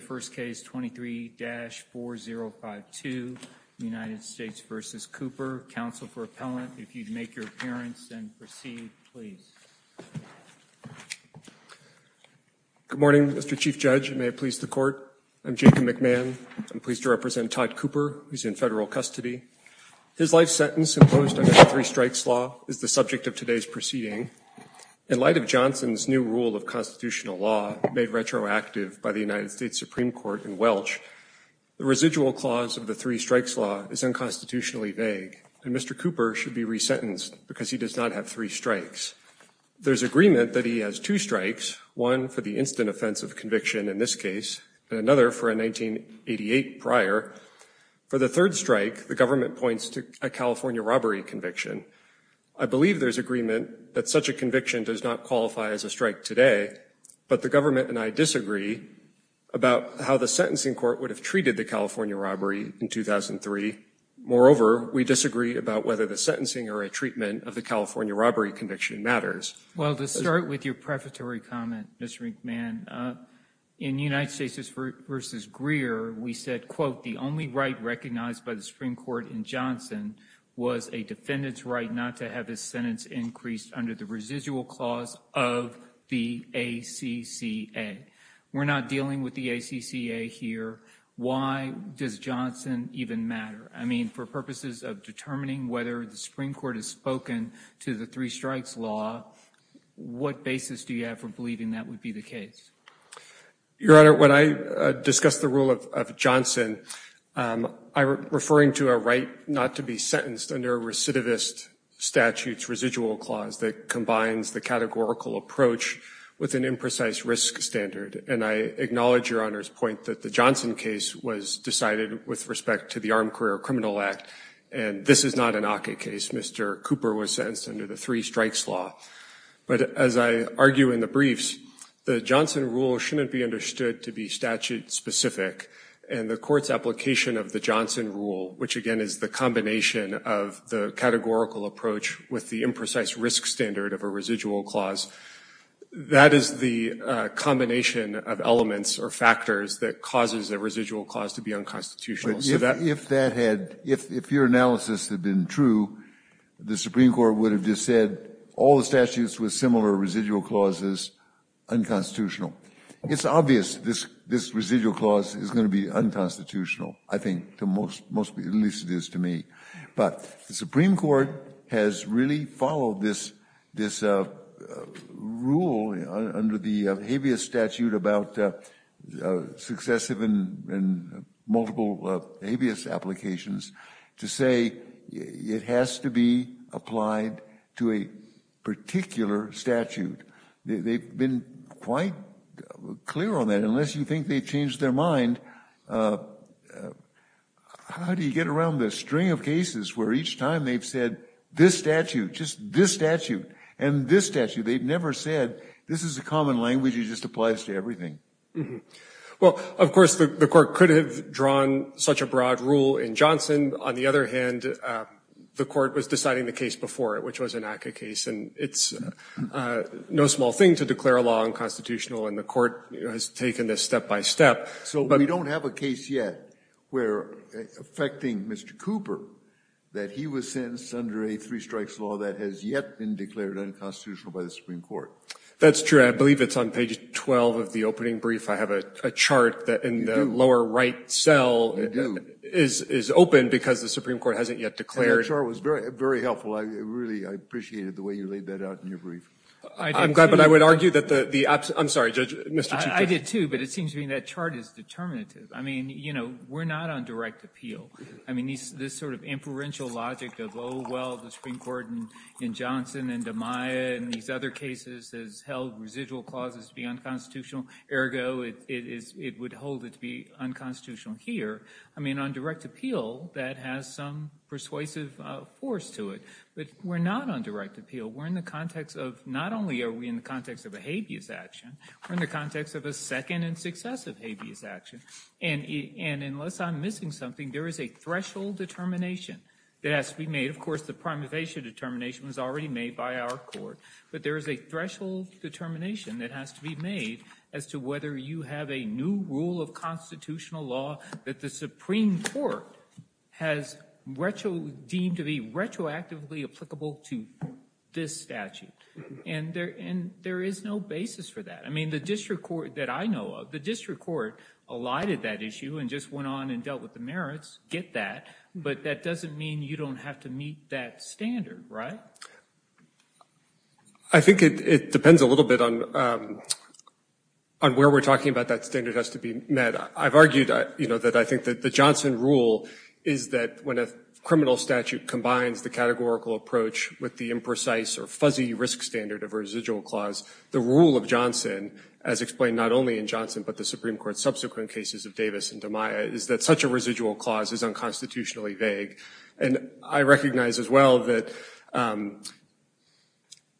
first case 23-4052, United States v. Cooper. Counsel for appellant, if you'd make your appearance and proceed, please. Good morning, Mr. Chief Judge, and may it please the Court, I'm Jacob McMahon, I'm pleased to represent Todd Cooper, who's in federal custody. His life sentence imposed under the Three Strikes Law is the subject of today's proceeding. In light of Johnson's new rule of constitutional law, made retroactive by the United States Supreme Court in Welch, the residual clause of the Three Strikes Law is unconstitutionally vague, and Mr. Cooper should be resentenced because he does not have three strikes. There's agreement that he has two strikes, one for the instant offense of conviction in this case, and another for a 1988 prior. For the third strike, the government points to a California robbery conviction. I believe there's agreement that such a conviction does not qualify as a strike today, but the government and I disagree about how the sentencing court would have treated the California robbery in 2003. Moreover, we disagree about whether the sentencing or a treatment of the California robbery conviction matters. Well, to start with your prefatory comment, Mr. McMahon, in United States v. Greer, we said, quote, the only right recognized by the Supreme Court in Johnson was a defendant's right not to have his sentence increased under the residual clause of the ACCA. We're not dealing with the ACCA here. Why does Johnson even matter? I mean, for purposes of determining whether the Supreme Court has spoken to the Three Strikes Law, what basis do you have for believing that would be the case? Your Honor, when I discuss the rule of Johnson, I'm referring to a right not to be sentenced under recidivist statute's residual clause that combines the categorical approach with an imprecise risk standard. And I acknowledge your Honor's point that the Johnson case was decided with respect to the Armed Career Criminal Act, and this is not an ACCA case. Mr. Cooper was sentenced under the Three Strikes Law. But as I argue in the briefs, the Johnson rule shouldn't be understood to be statute-specific, and the Court's application of the Johnson rule, which again is the combination of the categorical approach with the imprecise risk standard of a residual clause, that is the combination of elements or factors that causes a residual clause to be unconstitutional. But if that had, if your analysis had been true, the Supreme Court would have just said all the statutes with similar residual clauses, unconstitutional. It's obvious this residual clause is going to be unconstitutional, I think, at least it is to me. But the Supreme Court has really followed this rule under the habeas statute about successive and multiple habeas applications to say it has to be applied to a particular statute. They've been quite clear on that. Unless you think they've changed their mind, how do you get around the string of cases where each time they've said this statute, just this statute, and this statute, they've never said, this is a common language, it just applies to everything? Well, of course, the Court could have drawn such a broad rule in Johnson. On the other hand, the Court was deciding the case before it, which was an ACCA case. And it's no small thing to declare a law unconstitutional. And the Court has taken this step by step. So we don't have a case yet where, affecting Mr. Cooper, that he was sentenced under a three-strikes law that has yet been declared unconstitutional by the Supreme Court. That's true. I believe it's on page 12 of the opening brief. I have a chart that in the lower right cell is open because the Supreme Court hasn't yet declared. And your chart was very helpful. I really appreciated the way you laid that out in your brief. I'm glad, but I would argue that the absent – I'm sorry, Judge, Mr. Chief Justice. I did, too, but it seems to me that chart is determinative. I mean, you know, we're not on direct appeal. I mean, this sort of inferential logic of, oh, well, the Supreme Court in Johnson and DeMaia and these other cases has held residual clauses to be unconstitutional, ergo, it is – it would hold it to be unconstitutional here. I mean, on direct appeal, that has some persuasive force to it. But we're not on direct appeal. We're in the context of – not only are we in the context of a habeas action, we're in the context of a second and successive habeas action. And unless I'm missing something, there is a threshold determination that has to be made. Of course, the prima facie determination was already made by our court. But there is a threshold determination that has to be made as to whether you have a new rule of constitutional law that the Supreme Court has deemed to be retroactively applicable to this statute. And there is no basis for that. I mean, the district court that I know of, the district court alighted that issue and just went on and dealt with the merits, get that. But that doesn't mean you don't have to meet that standard, right? I think it depends a little bit on where we're talking about that standard has to be met. I've argued that I think that the Johnson rule is that when a criminal statute combines the categorical approach with the imprecise or fuzzy risk standard of a residual clause, the rule of Johnson, as explained not only in Johnson, but the Supreme Court's subsequent cases of Davis and DeMaia, is that such a residual clause is unconstitutionally vague. And I recognize as well that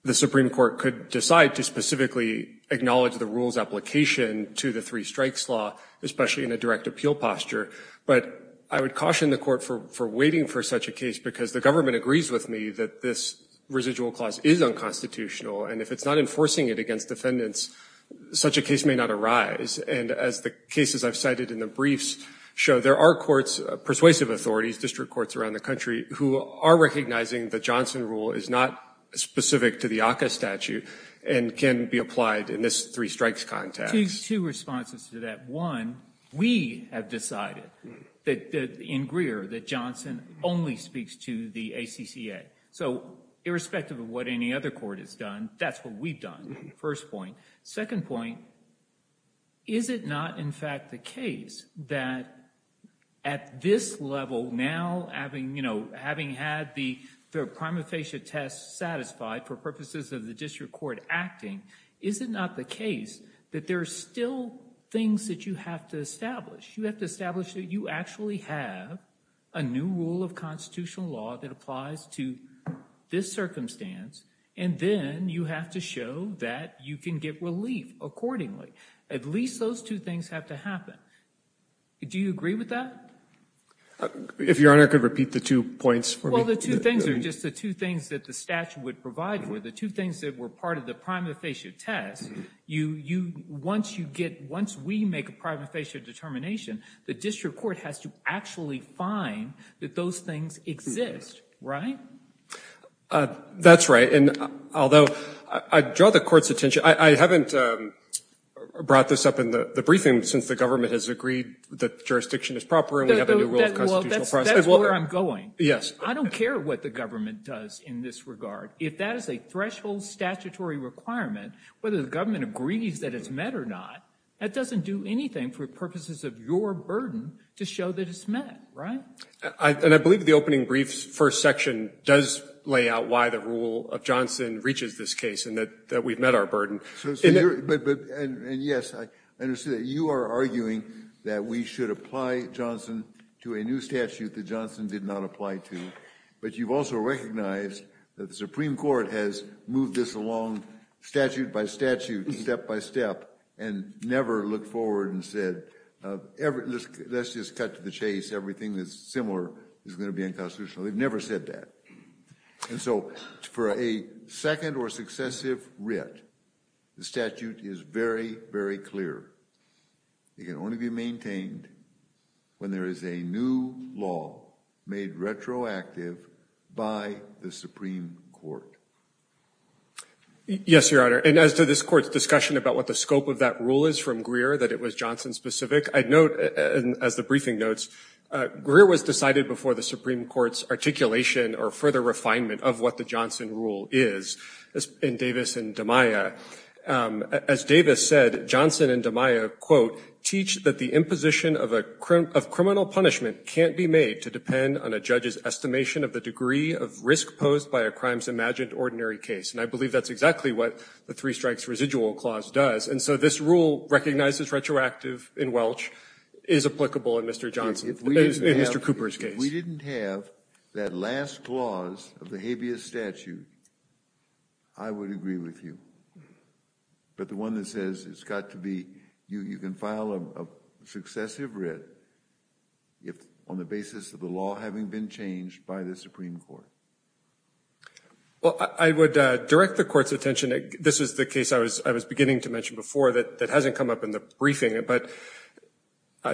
the Supreme Court could decide to specifically acknowledge the rule's application to the three strikes law especially in a direct appeal posture. But I would caution the court for waiting for such a case because the government agrees with me that this residual clause is unconstitutional. And if it's not enforcing it against defendants, such a case may not arise. And as the cases I've cited in the briefs show, there are courts, persuasive authorities, district courts around the country, who are recognizing the Johnson rule is not specific to the ACCA statute and can be applied in this three strikes context. Two responses to that. One, we have decided that in Greer that Johnson only speaks to the ACCA. So irrespective of what any other court has done, that's what we've done. First point. Second point, is it not in fact the case that at this level, now having had the prima facie test satisfied for purposes of the district court acting, is it not the case that there are still things that you have to establish? You have to establish that you actually have a new rule of constitutional law that applies to this circumstance. And then you have to show that you can get relief accordingly. At least those two things have to happen. Do you agree with that? If Your Honor could repeat the two points for me. Well, the two things are just the two things that the statute would provide for. The two things that were part of the prima facie test, once you get, once we make a prima facie determination, the district court has to actually find that those things exist, right? That's right. And although I draw the court's attention, I haven't brought this up in the briefing since the government has agreed that jurisdiction is proper and we have a new rule of constitutional process. That's where I'm going. Yes. I don't care what the government does in this regard. If that is a threshold statutory requirement, whether the government agrees that it's met or not, that doesn't do anything for purposes of your burden to show that it's met, right? And I believe the opening brief's first section does lay out why the rule of Johnson reaches this case and that we've met our burden. And yes, I understand that you are arguing that we should apply Johnson to a new statute that Johnson did not apply to. But you've also recognized that the Supreme Court has moved this along statute by statute, step by step, and never looked forward and said, let's just cut to the chase. Everything that's similar is going to be unconstitutional. They've never said that. And so for a second or successive writ, the statute is very, very clear. It can only be maintained when there is a new law made retroactive by the Supreme Court. Yes, Your Honor. And as to this court's discussion about what the scope of that rule is from Greer, that it was Johnson-specific, I'd note, as the briefing notes, Greer was decided before the Supreme Court's articulation or further refinement of what the Johnson rule is in Davis and DiMaia. As Davis said, Johnson and DiMaia, quote, teach that the imposition of criminal punishment can't be made to depend on a judge's estimation of the degree of risk posed by a crime's imagined ordinary case. And I believe that's exactly what the three strikes residual clause does. And so this rule recognizes retroactive in Welch is applicable in Mr. Johnson, in Mr. Cooper's case. If we didn't have that last clause of the habeas statute, I would agree with you. But the one that says it's got to be, you can file a successive writ on the basis of the law having been changed by the Supreme Court. Well, I would direct the court's attention. This is the case I was beginning to mention before that hasn't come up in the briefing. But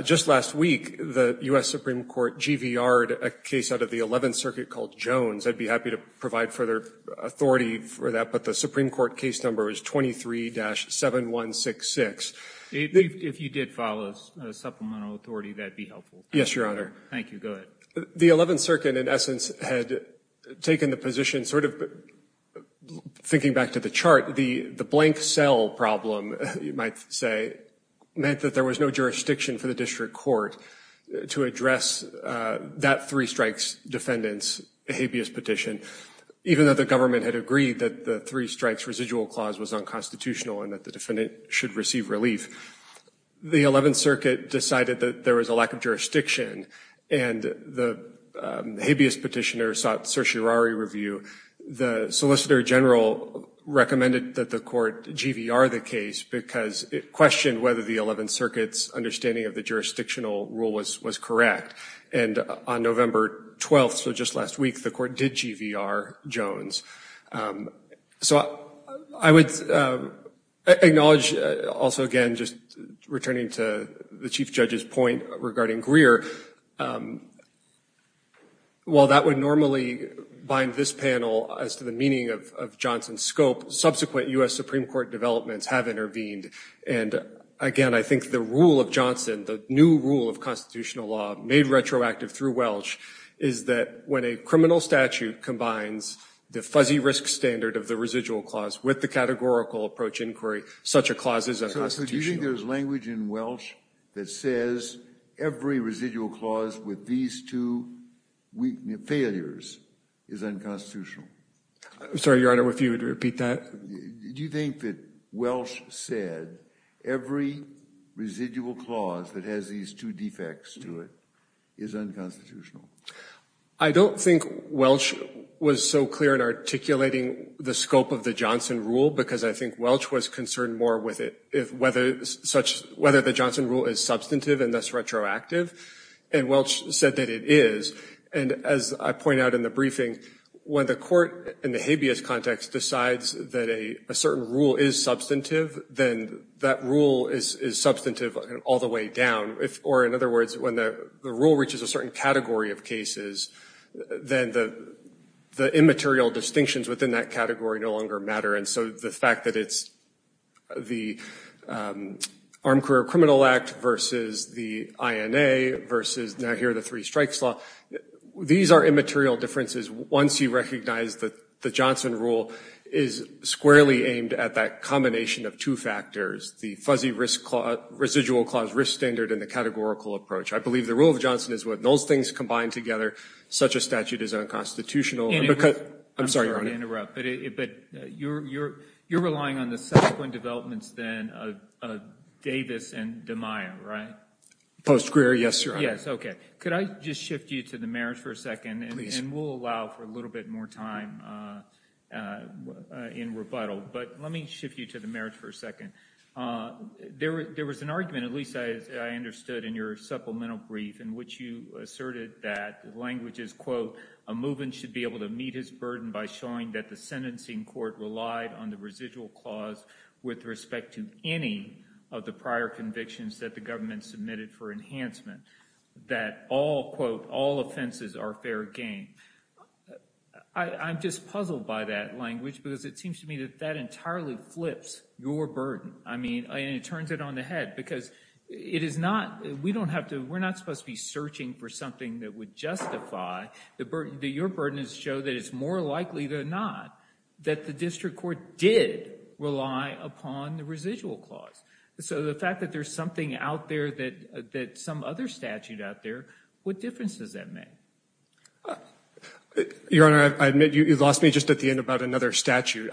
just last week, the U.S. Supreme Court GVR'd a case out of the 11th Circuit called Jones. I'd be happy to provide further authority for that. But the Supreme Court case number is 23-7166. If you did file a supplemental authority, that'd be helpful. Yes, Your Honor. Thank you. Go ahead. The 11th Circuit, in essence, had taken the position sort of, thinking back to the chart, the blank cell problem, you might say, meant that there was no jurisdiction for the district court to address that three strikes defendants habeas petition, even though the government had agreed that the three strikes residual clause was unconstitutional and that the defendant should receive relief. The 11th Circuit decided that there was a lack of jurisdiction. And the habeas petitioner sought certiorari review. The Solicitor General recommended that the court GVR the case because it questioned whether the 11th Circuit's understanding of the jurisdictional rule was correct. And on November 12th, so just last week, the court did GVR Jones. So I would acknowledge also, again, just returning to the Chief Judge's point regarding Greer. While that would normally bind this panel as to the meaning of Johnson's scope, subsequent U.S. Supreme Court developments have intervened. And again, I think the rule of Johnson, the new rule of constitutional law, made retroactive through Welch, is that when a criminal statute combines the fuzzy risk standard of the residual clause with the categorical approach inquiry, such a clause is unconstitutional. So do you think there's language in Welch that says every residual clause with these two failures is unconstitutional? I'm sorry, Your Honor, if you would repeat that. Do you think that Welch said every residual clause that has these two defects to it is unconstitutional? I don't think Welch was so clear in articulating the scope of the Johnson rule because I think Welch was concerned more with whether the Johnson rule is substantive and thus retroactive. And Welch said that it is. And as I point out in the briefing, when the court in the habeas context decides that a certain rule is substantive, then that rule is substantive all the way down. Or in other words, when the rule reaches a certain category of cases, then the immaterial distinctions within that category no longer matter. And so the fact that it's the Armed Career Criminal Act versus the INA versus now here the three strikes law, these are immaterial differences once you recognize that the Johnson rule is squarely aimed at that combination of two factors, the fuzzy residual clause standard and the categorical approach. I believe the rule of the Johnson is what those things combine together. Such a statute is unconstitutional. I'm sorry, Your Honor. I'm sorry to interrupt, but you're relying on the subsequent developments then of Davis and DeMaio, right? Post-Grier, yes, Your Honor. Yes, okay. Could I just shift you to the merits for a second? Please. And we'll allow for a little bit more time in rebuttal. But let me shift you to the merits for a second. There was an argument, at least I understood in your supplemental brief, in which you asserted that language is, quote, a movement should be able to meet his burden by showing that the sentencing court relied on the residual clause with respect to any of the prior convictions that the government submitted for enhancement, that all, quote, all offenses are fair game. I'm just puzzled by that language because it seems to me that that entirely flips your burden. I mean, and it turns it on the head because it is not, we don't have to, we're not supposed to be searching for something that would justify the burden, that your burden is to show that it's more likely than not that the district court did rely upon the residual clause. So the fact that there's something out there that, that some other statute out there, what difference does that make? Your Honor, I admit you lost me just at the end about another statute.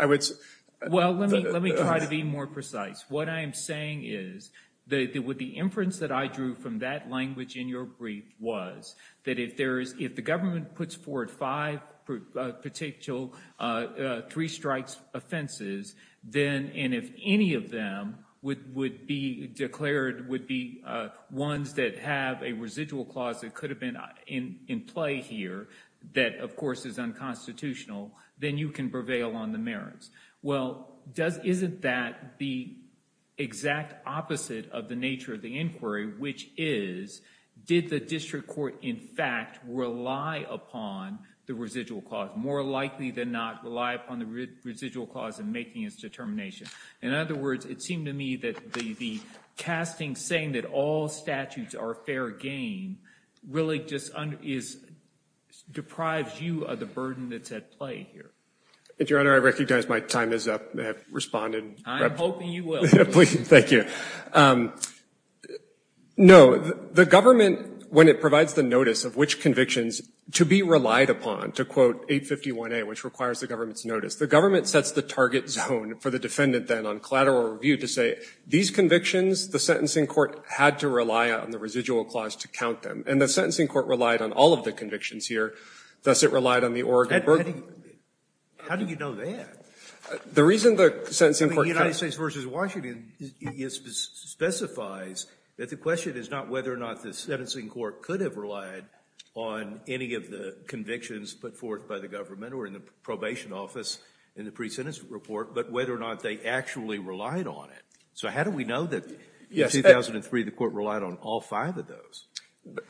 Well, let me try to be more precise. What I am saying is that with the inference that I drew from that language in your brief was that if there is, if the government puts forward five particular three strikes offenses, then, and if any of them would be declared, would be ones that have a residual clause that could have been in play here, that of course is unconstitutional, then you can prevail on the merits. Well, does, isn't that the exact opposite of the nature of the inquiry, which is, did the district court in fact rely upon the residual clause? More likely than not rely upon the residual clause in making its determination. In other words, it seemed to me that the, the casting saying that all statutes are fair game really just is, deprives you of the burden that's at play here. Your Honor, I recognize my time is up. I have responded. I'm hoping you will. Please, thank you. No, the government, when it provides the notice of which convictions to be relied upon, to quote 851A, which requires the government's notice, the government sets the target zone for the defendant then on collateral review to say these convictions, the sentencing court had to rely on the residual clause to count them. And the sentencing court relied on all of the convictions here. Thus, it relied on the Oregon. How do you know that? The reason the sentencing court counts. The United States v. Washington specifies that the question is not whether or not the sentencing court could have relied on any of the convictions put forth by the government or in the probation office in the pre-sentence report, but whether or not they actually relied on it. So how do we know that in 2003 the court relied on all five of those?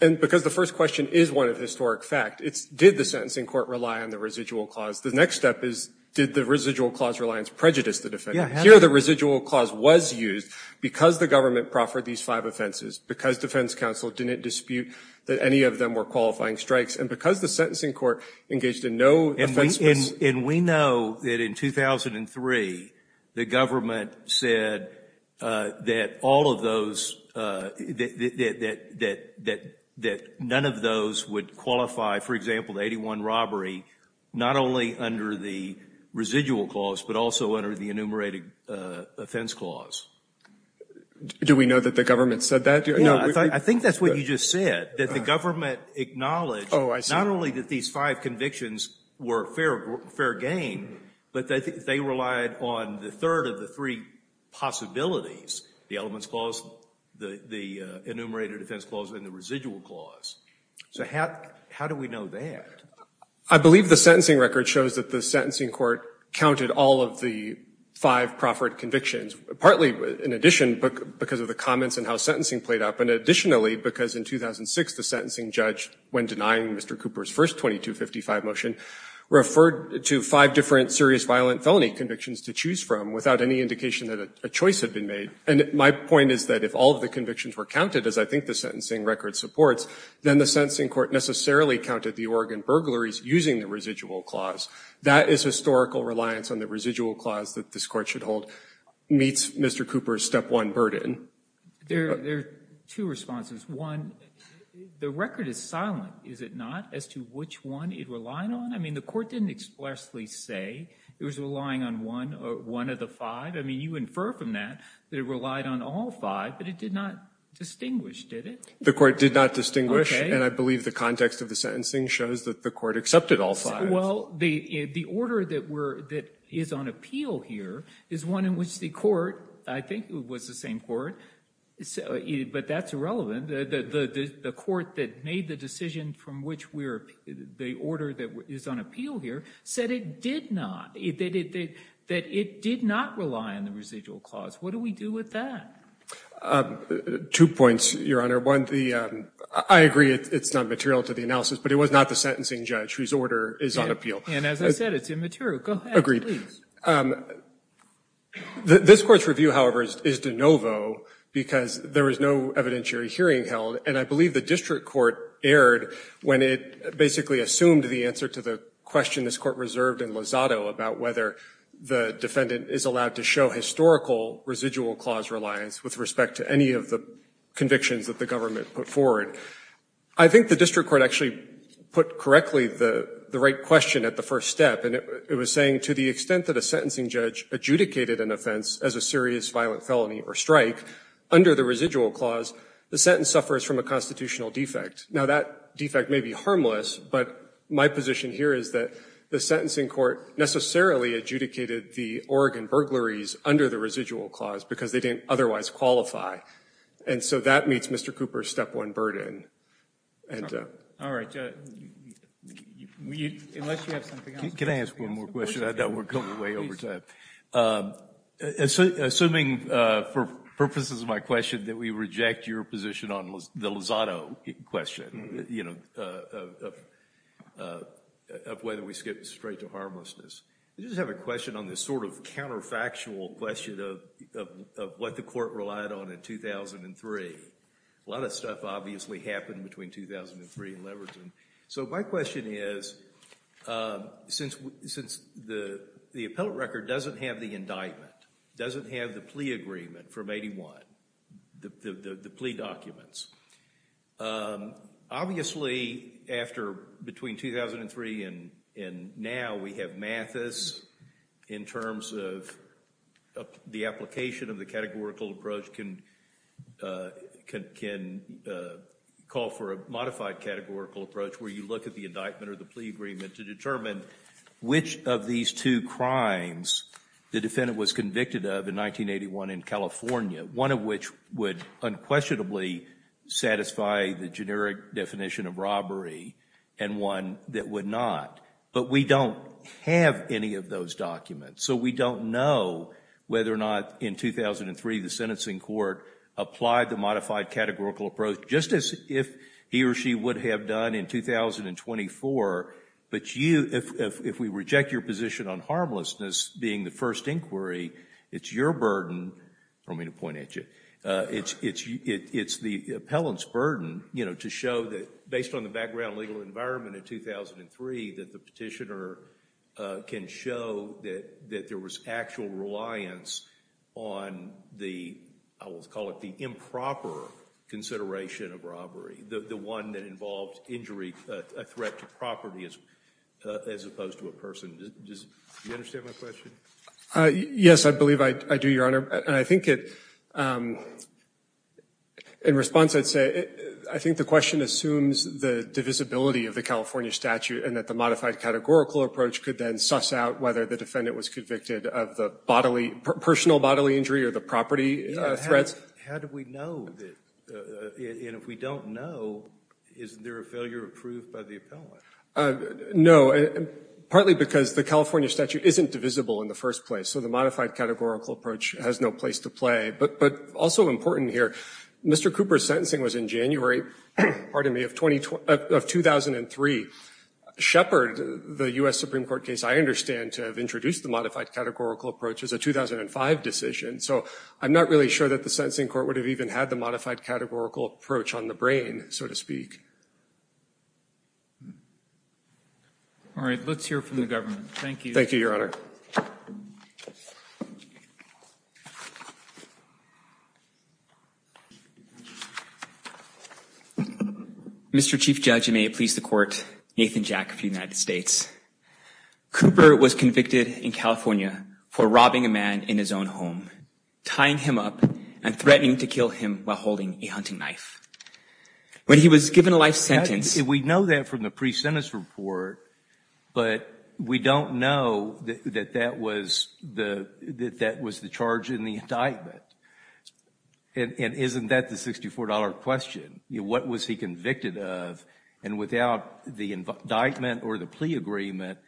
And because the first question is one of historic fact, it's did the sentencing court rely on the residual clause. The next step is did the residual clause reliance prejudice the defendant? Here the residual clause was used because the government proffered these five offenses, because defense counsel didn't dispute that any of them were qualifying strikes, and because the sentencing court engaged in no offense. And we know that in 2003 the government said that all of those, that none of those would qualify, for example, the 81 robbery, not only under the residual clause, but also under the enumerated offense clause. Do we know that the government said that? I think that's what you just said, that the government acknowledged not only that these five convictions were fair game, but that they relied on the third of the three possibilities, the elements clause, the enumerated offense clause, and the residual clause. So how do we know that? I believe the sentencing record shows that the sentencing court counted all of the five proffered convictions, partly in addition because of the comments and how sentencing played out, but additionally because in 2006 the sentencing judge, when denying Mr. Cooper's first 2255 motion, referred to five different serious violent felony convictions to choose from without any indication that a choice had been made. And my point is that if all of the convictions were counted, as I think the sentencing record supports, then the sentencing court necessarily counted the Oregon burglaries using the residual clause. That is historical reliance on the residual clause that this Court should hold meets Mr. Cooper's step one burden. There are two responses. One, the record is silent, is it not, as to which one it relied on? I mean, the Court didn't expressly say it was relying on one of the five. You infer from that that it relied on all five, but it did not distinguish, did it? The Court did not distinguish, and I believe the context of the sentencing shows that the Court accepted all five. Well, the order that is on appeal here is one in which the Court, I think it was the same Court, but that's irrelevant. The Court that made the decision from which the order that is on appeal here said it did not, that it did not rely on the residual clause, what do we do with that? Two points, Your Honor. One, I agree it's not material to the analysis, but it was not the sentencing judge whose order is on appeal. And as I said, it's immaterial. Go ahead, please. This Court's review, however, is de novo because there was no evidentiary hearing held, and I believe the district court erred when it basically assumed the answer to the question this Court reserved in Lozado about whether the defendant is allowed to show historical residual clause reliance with respect to any of the convictions that the government put forward. I think the district court actually put correctly the right question at the first step, and it was saying to the extent that a sentencing judge adjudicated an offense as a serious violent felony or strike, under the residual clause, the sentence suffers from a constitutional defect. Now, that defect may be harmless, but my position here is that the sentencing court necessarily adjudicated the Oregon burglaries under the residual clause because they didn't otherwise qualify. And so that meets Mr. Cooper's step one burden. All right, unless you have something else. Can I ask one more question? I know we're going way over time. Assuming, for purposes of my question, that we reject your position on the Lozado question of whether we skip straight to harmlessness. I just have a question on this sort of counterfactual question of what the court relied on in 2003. A lot of stuff obviously happened between 2003 and Leverton. So my question is, since the appellate record doesn't have the indictment, doesn't have the plea agreement from 81, the plea documents, obviously between 2003 and now we have Mathis in terms of the application of the categorical approach can call for a modified categorical approach where you look at the indictment or the plea agreement to determine which of these two crimes the defendant was convicted of in 1981 in California. One of which would unquestionably satisfy the generic definition of robbery and one that would not. But we don't have any of those documents. So we don't know whether or not in 2003 the sentencing court applied the modified If we reject your position on harmlessness being the first inquiry, it's your burden – I don't mean to point at you – it's the appellant's burden to show that based on the background legal environment in 2003 that the petitioner can show that there was actual reliance on the, I will call it the improper consideration of robbery, the one that involved injury, a threat to property as opposed to a person. Do you understand my question? Yes, I believe I do, Your Honor. I think in response I'd say I think the question assumes the divisibility of the California statute and that the modified categorical approach could then suss out whether the defendant was convicted of the bodily, personal bodily injury or the property threats. How do we know that, and if we don't know, is there a failure approved by the appellant? No, partly because the California statute isn't divisible in the first place. So the modified categorical approach has no place to play. But also important here, Mr. Cooper's sentencing was in January, pardon me, of 2003. Shepard, the U.S. Supreme Court case, I understand to have introduced the modified categorical approach as a 2005 decision. So I'm not really sure that the sentencing court would have even had the modified categorical approach on the brain, so to speak. All right, let's hear from the government. Thank you. Thank you, Your Honor. Mr. Chief Judge, and may it please the Court, Nathan Jack of the United States. Cooper was convicted in California for robbing a man in his own home, tying him up, and threatening to kill him while holding a hunting knife. When he was given a life sentence— We know that from the pre-sentence report, but we don't know that that was the charge in the indictment. And isn't that the $64 question? What was he convicted of? And without the indictment or the plea agreement,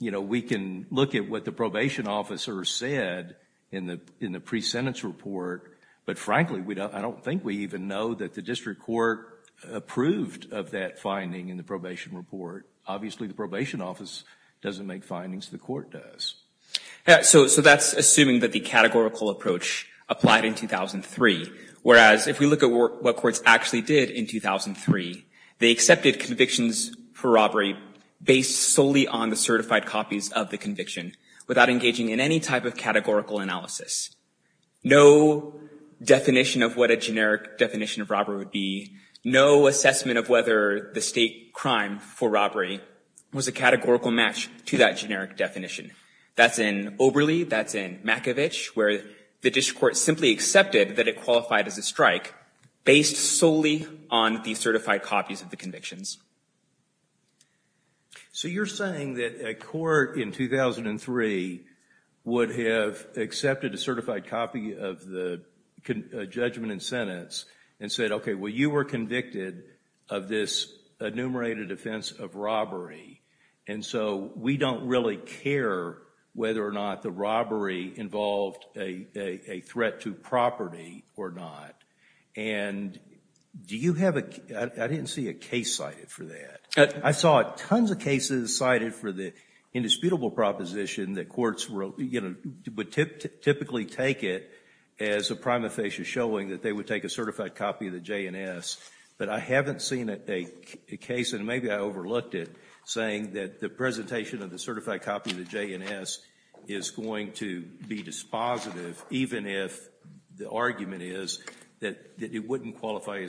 we can look at what the probation officer said in the pre-sentence report, but frankly, I don't think we even know that the district court approved of that finding in the probation report. Obviously, the probation office doesn't make findings, the court does. So that's assuming that the categorical approach applied in 2003, whereas if we look at what courts actually did in 2003, they accepted convictions for robbery based solely on the certified copies of the conviction without engaging in any type of categorical analysis. No definition of what a generic definition of robbery would be, no assessment of whether the state crime for robbery was a categorical match to that generic definition. That's in Oberle, that's in Makovich, where the district court simply accepted that it was based solely on the certified copies of the convictions. So you're saying that a court in 2003 would have accepted a certified copy of the judgment and sentence and said, okay, well, you were convicted of this enumerated offense of robbery, and so we don't really care whether or not the robbery involved a threat to property or not. And do you have a, I didn't see a case cited for that. I saw tons of cases cited for the indisputable proposition that courts would typically take it as a prima facie showing that they would take a certified copy of the J&S, but I haven't seen a case, and maybe I overlooked it, saying that the presentation of the certified copy of the J&S is going to be dispositive, even if the argument is that it wouldn't qualify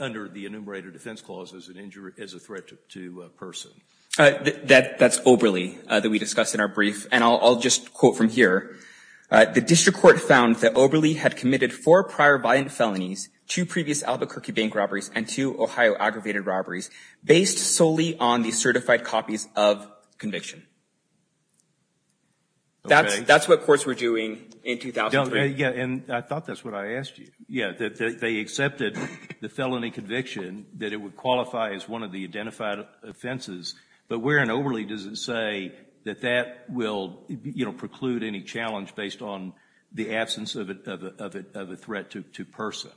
under the enumerated defense clause as a threat to a person. That's Oberle that we discussed in our brief, and I'll just quote from here. The district court found that Oberle had committed four prior violent felonies, two previous Albuquerque bank robberies, and two Ohio aggravated robberies, based solely on the certified copies of conviction. Okay. That's what courts were doing in 2003. Yeah, and I thought that's what I asked you. Yeah, that they accepted the felony conviction, that it would qualify as one of the identified offenses, but where in Oberle does it say that that will, you know, preclude any challenge based on the absence of a threat to person?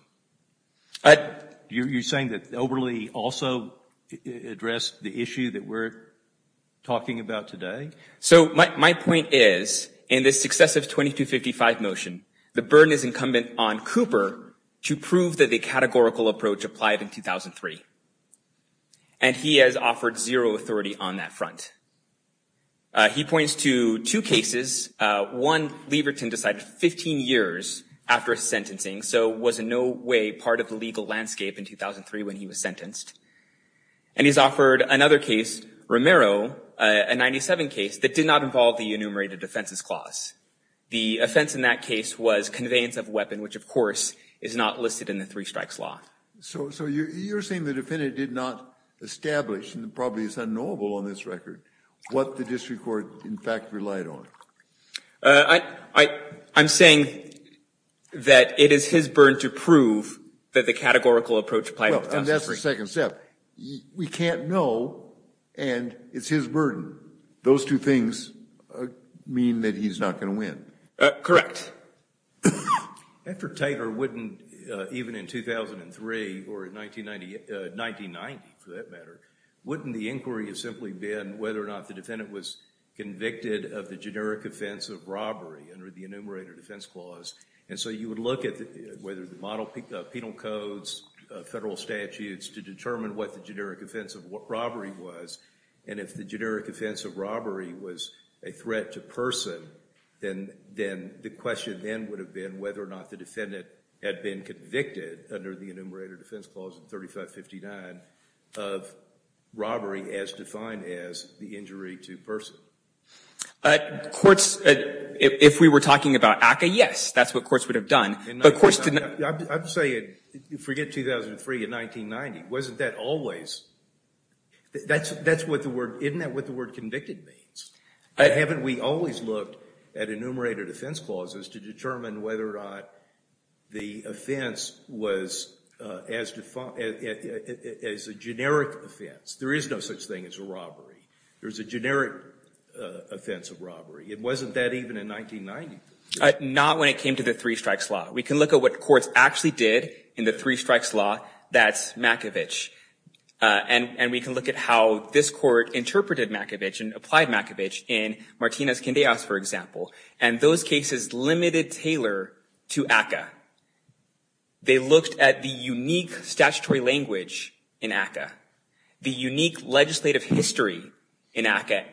Are you saying that Oberle also addressed the issue that we're talking about today? So my point is, in this successive 2255 motion, the burden is incumbent on Cooper to prove that the categorical approach applied in 2003, and he has offered zero authority on that front. He points to two cases. One, Leverton decided 15 years after sentencing, so was in no way part of the legal landscape in 2003 when he was sentenced. And he's offered another case, Romero, a 97 case, that did not involve the enumerated offenses clause. The offense in that case was conveyance of weapon, which of course is not listed in the three strikes law. So you're saying the defendant did not establish, and probably is unknowable on this record, what the district court in fact relied on. I'm saying that it is his burden to prove that the categorical approach applied in 2003. And that's the second step. We can't know, and it's his burden. Those two things mean that he's not going to win. Correct. After Taylor, wouldn't, even in 2003, or in 1990, for that matter, wouldn't the inquiry have simply been whether or not the defendant was convicted of the generic offense of robbery under the enumerated offense clause? And so you would look at whether the penal codes, federal statutes, to determine what the generic offense of robbery was. And if the generic offense of robbery was a threat to person, then the question then would have been whether or not the defendant had been convicted under the enumerated offense clause in 3559 of robbery as defined as the injury to person. Courts, if we were talking about ACCA, yes, that's what courts would have done. But courts didn't. I'm saying, forget 2003 and 1990. Wasn't that always? That's what the word, isn't that what the word convicted means? Haven't we always looked at enumerated offense clauses to determine whether or not the offense was as defined as a generic offense? There is no such thing as a robbery. There's a generic offense of robbery. It wasn't that even in 1990. Not when it came to the three strikes law. We can look at what courts actually did in the three strikes law. That's Makovich. And we can look at how this court interpreted Makovich and applied Makovich in Martinez-Quindezas, for example. And those cases limited Taylor to ACCA. They looked at the unique statutory language in ACCA. The unique legislative history in ACCA.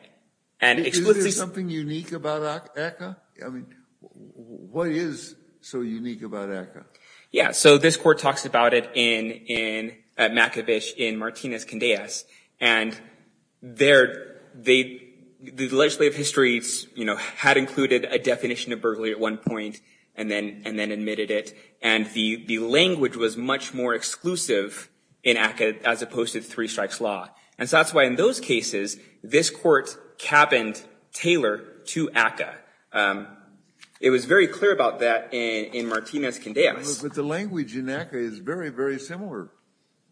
Is there something unique about ACCA? I mean, what is so unique about ACCA? Yeah, so this court talks about it in Makovich in Martinez-Quindezas. And the legislative history had included a definition of burglary at one point and then admitted it. And the language was much more exclusive in ACCA as opposed to the three strikes law. And so that's why in those cases, this court cabined Taylor to ACCA. It was very clear about that in Martinez-Quindezas. But the language in ACCA is very, very similar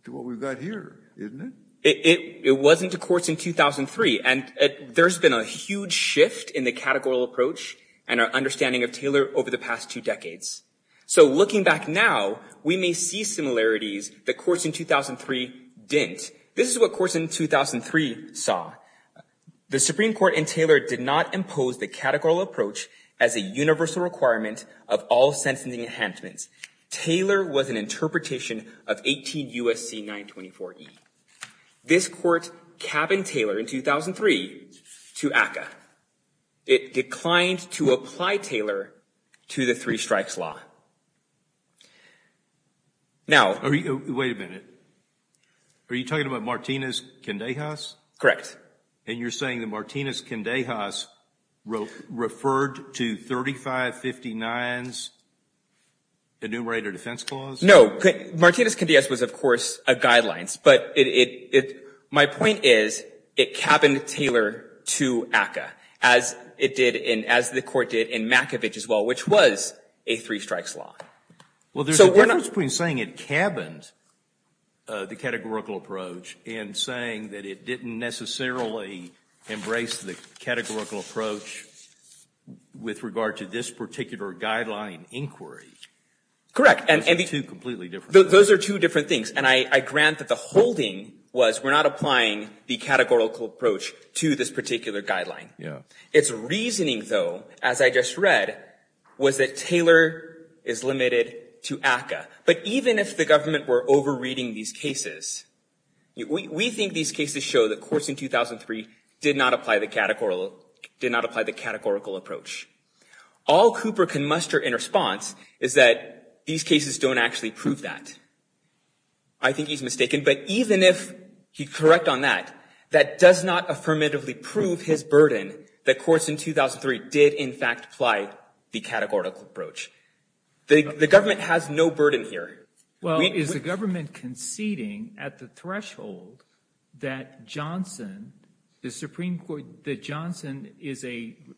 to what we've got here, isn't it? It wasn't to courts in 2003. And there's been a huge shift in the categorical approach and our understanding of Taylor over the past two decades. So looking back now, we may see similarities that courts in 2003 didn't. This is what courts in 2003 saw. The Supreme Court and Taylor did not impose the categorical approach as a universal requirement of all sentencing enhancements. Taylor was an interpretation of 18 U.S.C. 924E. This court cabined Taylor in 2003 to ACCA. It declined to apply Taylor to the three strikes law. Now... Wait a minute. Are you talking about Martinez-Quindezas? Correct. And you're saying that Martinez-Quindezas referred to 3559's enumerator defense clause? No. Martinez-Quindezas was, of course, a guideline. But my point is, it cabined Taylor to ACCA, as it did, as the court did in Makovich as well, which was a three strikes law. Well, there's a difference between saying it cabined the categorical approach and saying that it didn't necessarily embrace the categorical approach with regard to this particular guideline inquiry. Correct. Those are two completely different things. Those are two different things. And I grant that the holding was we're not applying the categorical approach to this particular guideline. Yeah. Its reasoning, though, as I just read, was that Taylor is limited to ACCA. But even if the government were over-reading these cases, we think these cases show that courts in 2003 did not apply the categorical approach. All Cooper can muster in response is that these cases don't actually prove that. I think he's mistaken. But even if he's correct on that, that does not affirmatively prove his burden that courts in 2003 did, in fact, apply the categorical approach. The government has no burden here. Well, is the government conceding at the threshold that Johnson, the Supreme Court, that Johnson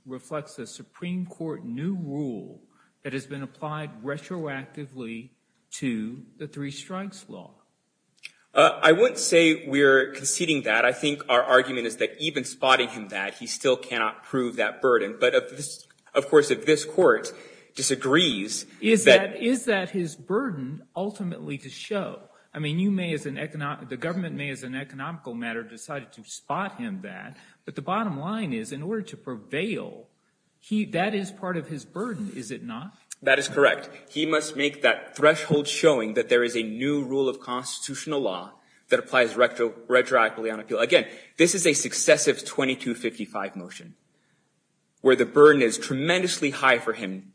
reflects a Supreme Court new rule that has been applied retroactively to the three strikes law? I wouldn't say we're conceding that. I think our argument is that even spotting him that, he still cannot prove that burden. But of course, if this court disagrees— Is that his burden ultimately to show? I mean, the government may, as an economical matter, decide to spot him that. But the bottom line is, in order to prevail, that is part of his burden, is it not? That is correct. He must make that threshold showing that there is a new rule of constitutional law that applies retroactively on appeal. Again, this is a successive 2255 motion, where the burden is tremendously high for him.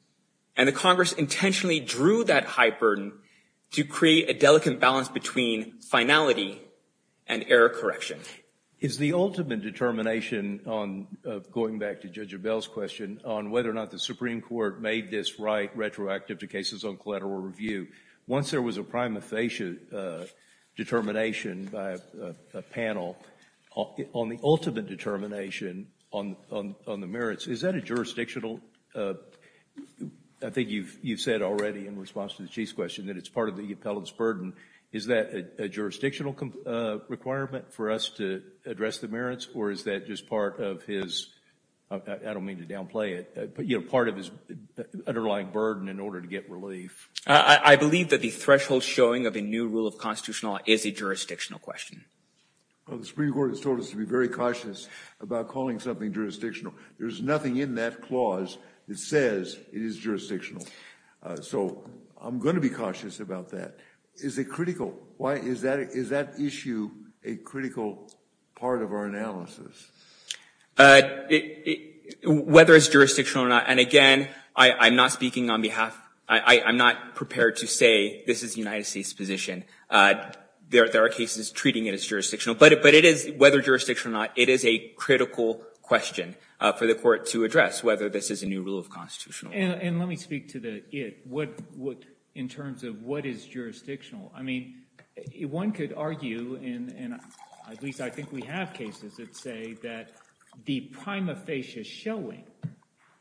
And the Congress intentionally drew that high burden to create a delicate balance between finality and error correction. Is the ultimate determination, going back to Judge Abell's question, on whether or not the Supreme Court made this right retroactive to cases on collateral review, once there was a prima facie determination by a panel, on the ultimate determination on the merits, is that a jurisdictional—I think you've said already in response to the Chief's question that it's part of the appellant's burden—is that a jurisdictional requirement for us to address the merits? Or is that just part of his—I don't mean to downplay it—but, you know, part of his underlying burden in order to get relief? I believe that the threshold showing of a new rule of constitutional law is a jurisdictional question. Well, the Supreme Court has told us to be very cautious about calling something jurisdictional. There's nothing in that clause that says it is jurisdictional. So I'm going to be cautious about that. Is it critical? Is that issue a critical part of our analysis? Whether it's jurisdictional or not. And again, I'm not speaking on behalf—I'm not prepared to say this is the United States' position. There are cases treating it as jurisdictional. But it is, whether jurisdictional or not, it is a critical question for the Court to address, whether this is a new rule of constitutional law. And let me speak to the it. In terms of what is jurisdictional. I mean, one could argue, and at least I think we have cases that say that the prima facie showing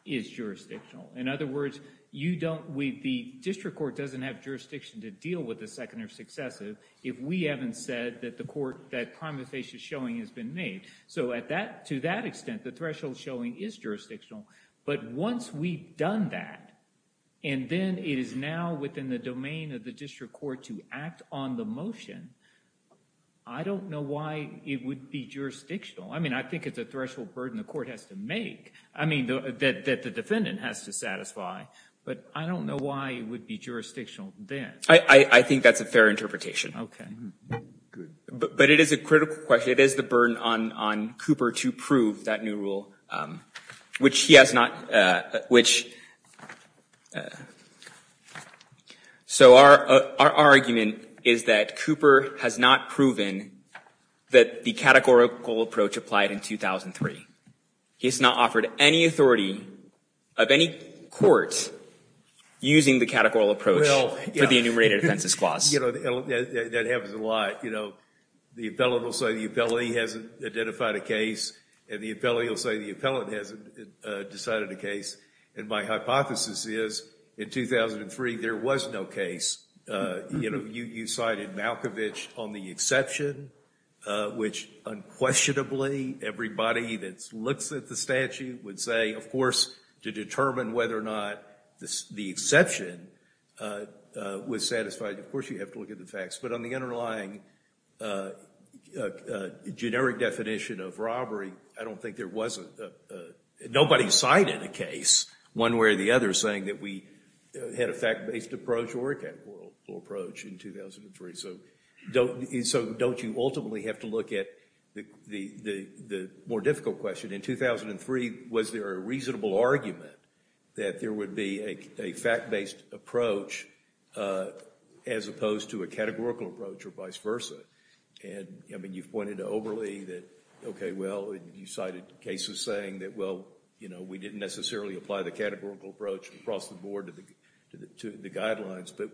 is jurisdictional. In other words, you don't—the district court doesn't have jurisdiction to deal with the second or successive if we haven't said that the court—that prima facie showing has been made. So to that extent, the threshold showing is jurisdictional. But once we've done that, and then it is now within the domain of the district court to act on the motion, I don't know why it would be jurisdictional. I mean, I think it's a threshold burden the court has to make. I mean, that the defendant has to satisfy. But I don't know why it would be jurisdictional then. I think that's a fair interpretation. But it is a critical question. It is the burden on Cooper to prove that new rule, which he has not—which—so our argument is that Cooper has not proven that the categorical approach applied in 2003. He's not offered any authority of any court using the categorical approach for the enumerated offenses clause. That happens a lot. The appellant will say the appellee hasn't identified a case, and the appellee will say the appellant hasn't decided a case. And my hypothesis is in 2003, there was no case. You cited Malkovich on the exception, which unquestionably everybody that looks at the statute would say, of course, to determine whether or not the exception was satisfied. Of course, you have to look at the facts. But on the underlying generic definition of robbery, I don't think there was a—nobody cited a case, one way or the other, saying that we had a fact-based approach or a categorical approach in 2003. So don't you ultimately have to look at the more difficult question? In 2003, was there a reasonable argument that there would be a fact-based approach as opposed to a categorical approach or vice versa? And I mean, you've pointed to Oberle that, OK, well, you cited cases saying that, well, you know, we didn't necessarily apply the categorical approach across the board to the guidelines. But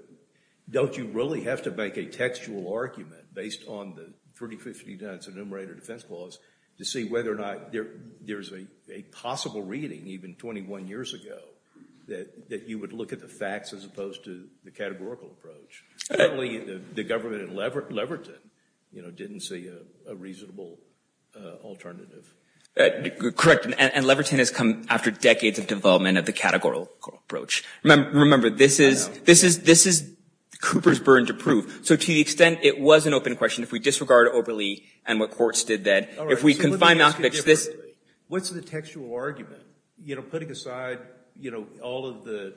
don't you really have to make a textual argument based on the 30-50-dents enumerated offense clause to see whether or not there's a possible reading, even 21 years ago, that you would look at the facts as opposed to the categorical approach? Certainly, the government in Leverton, you know, didn't see a reasonable alternative. Correct. And Leverton has come after decades of development of the categorical approach. Remember, this is Cooper's burden to prove. So to the extent it was an open question, if we disregard Oberle and what courts did then, if we confine Malkovich to this— What's the textual argument? You know, putting aside, you know, all of the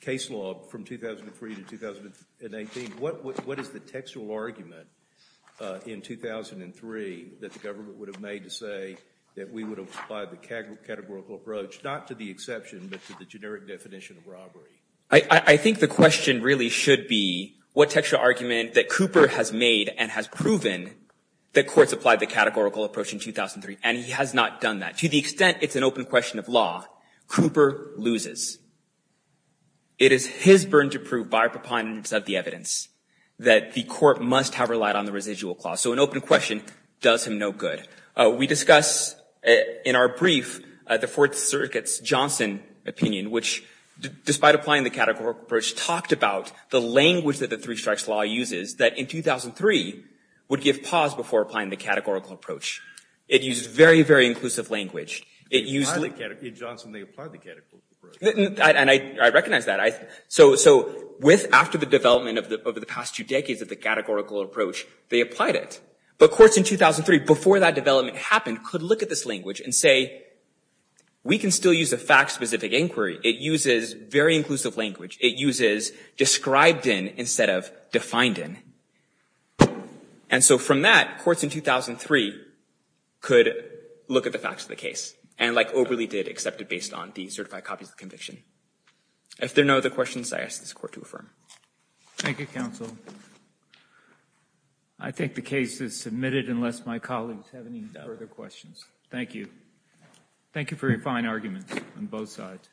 case law from 2003 to 2018, what is the textual argument in 2003 that the government would have made to say that we would apply the categorical approach, not to the exception, but to the generic definition of robbery? I think the question really should be what textual argument that Cooper has made and has proven that courts applied the categorical approach in 2003. And he has not done that. To the extent it's an open question of law, Cooper loses. It is his burden to prove by preponderance of the evidence that the court must have relied on the residual clause. So an open question does him no good. We discuss in our brief the Fourth Circuit's Johnson opinion, which, despite applying the categorical approach, talked about the language that the three strikes law uses that in 2003 would give pause before applying the categorical approach. It used very, very inclusive language. It used— In Johnson, they applied the categorical approach. And I recognize that. So with, after the development of the past two decades of the categorical approach, they applied it. But courts in 2003, before that development happened, could look at this language and say, we can still use a fact-specific inquiry. It uses very inclusive language. It uses described in instead of defined in. And so from that, courts in 2003 could look at the facts of the case and, like Oberle did, accept it based on the certified copies of the conviction. If there are no other questions, I ask this Court to affirm. Thank you, counsel. I think the case is submitted unless my colleagues have any further questions. Thank you. Thank you for your fine arguments on both sides.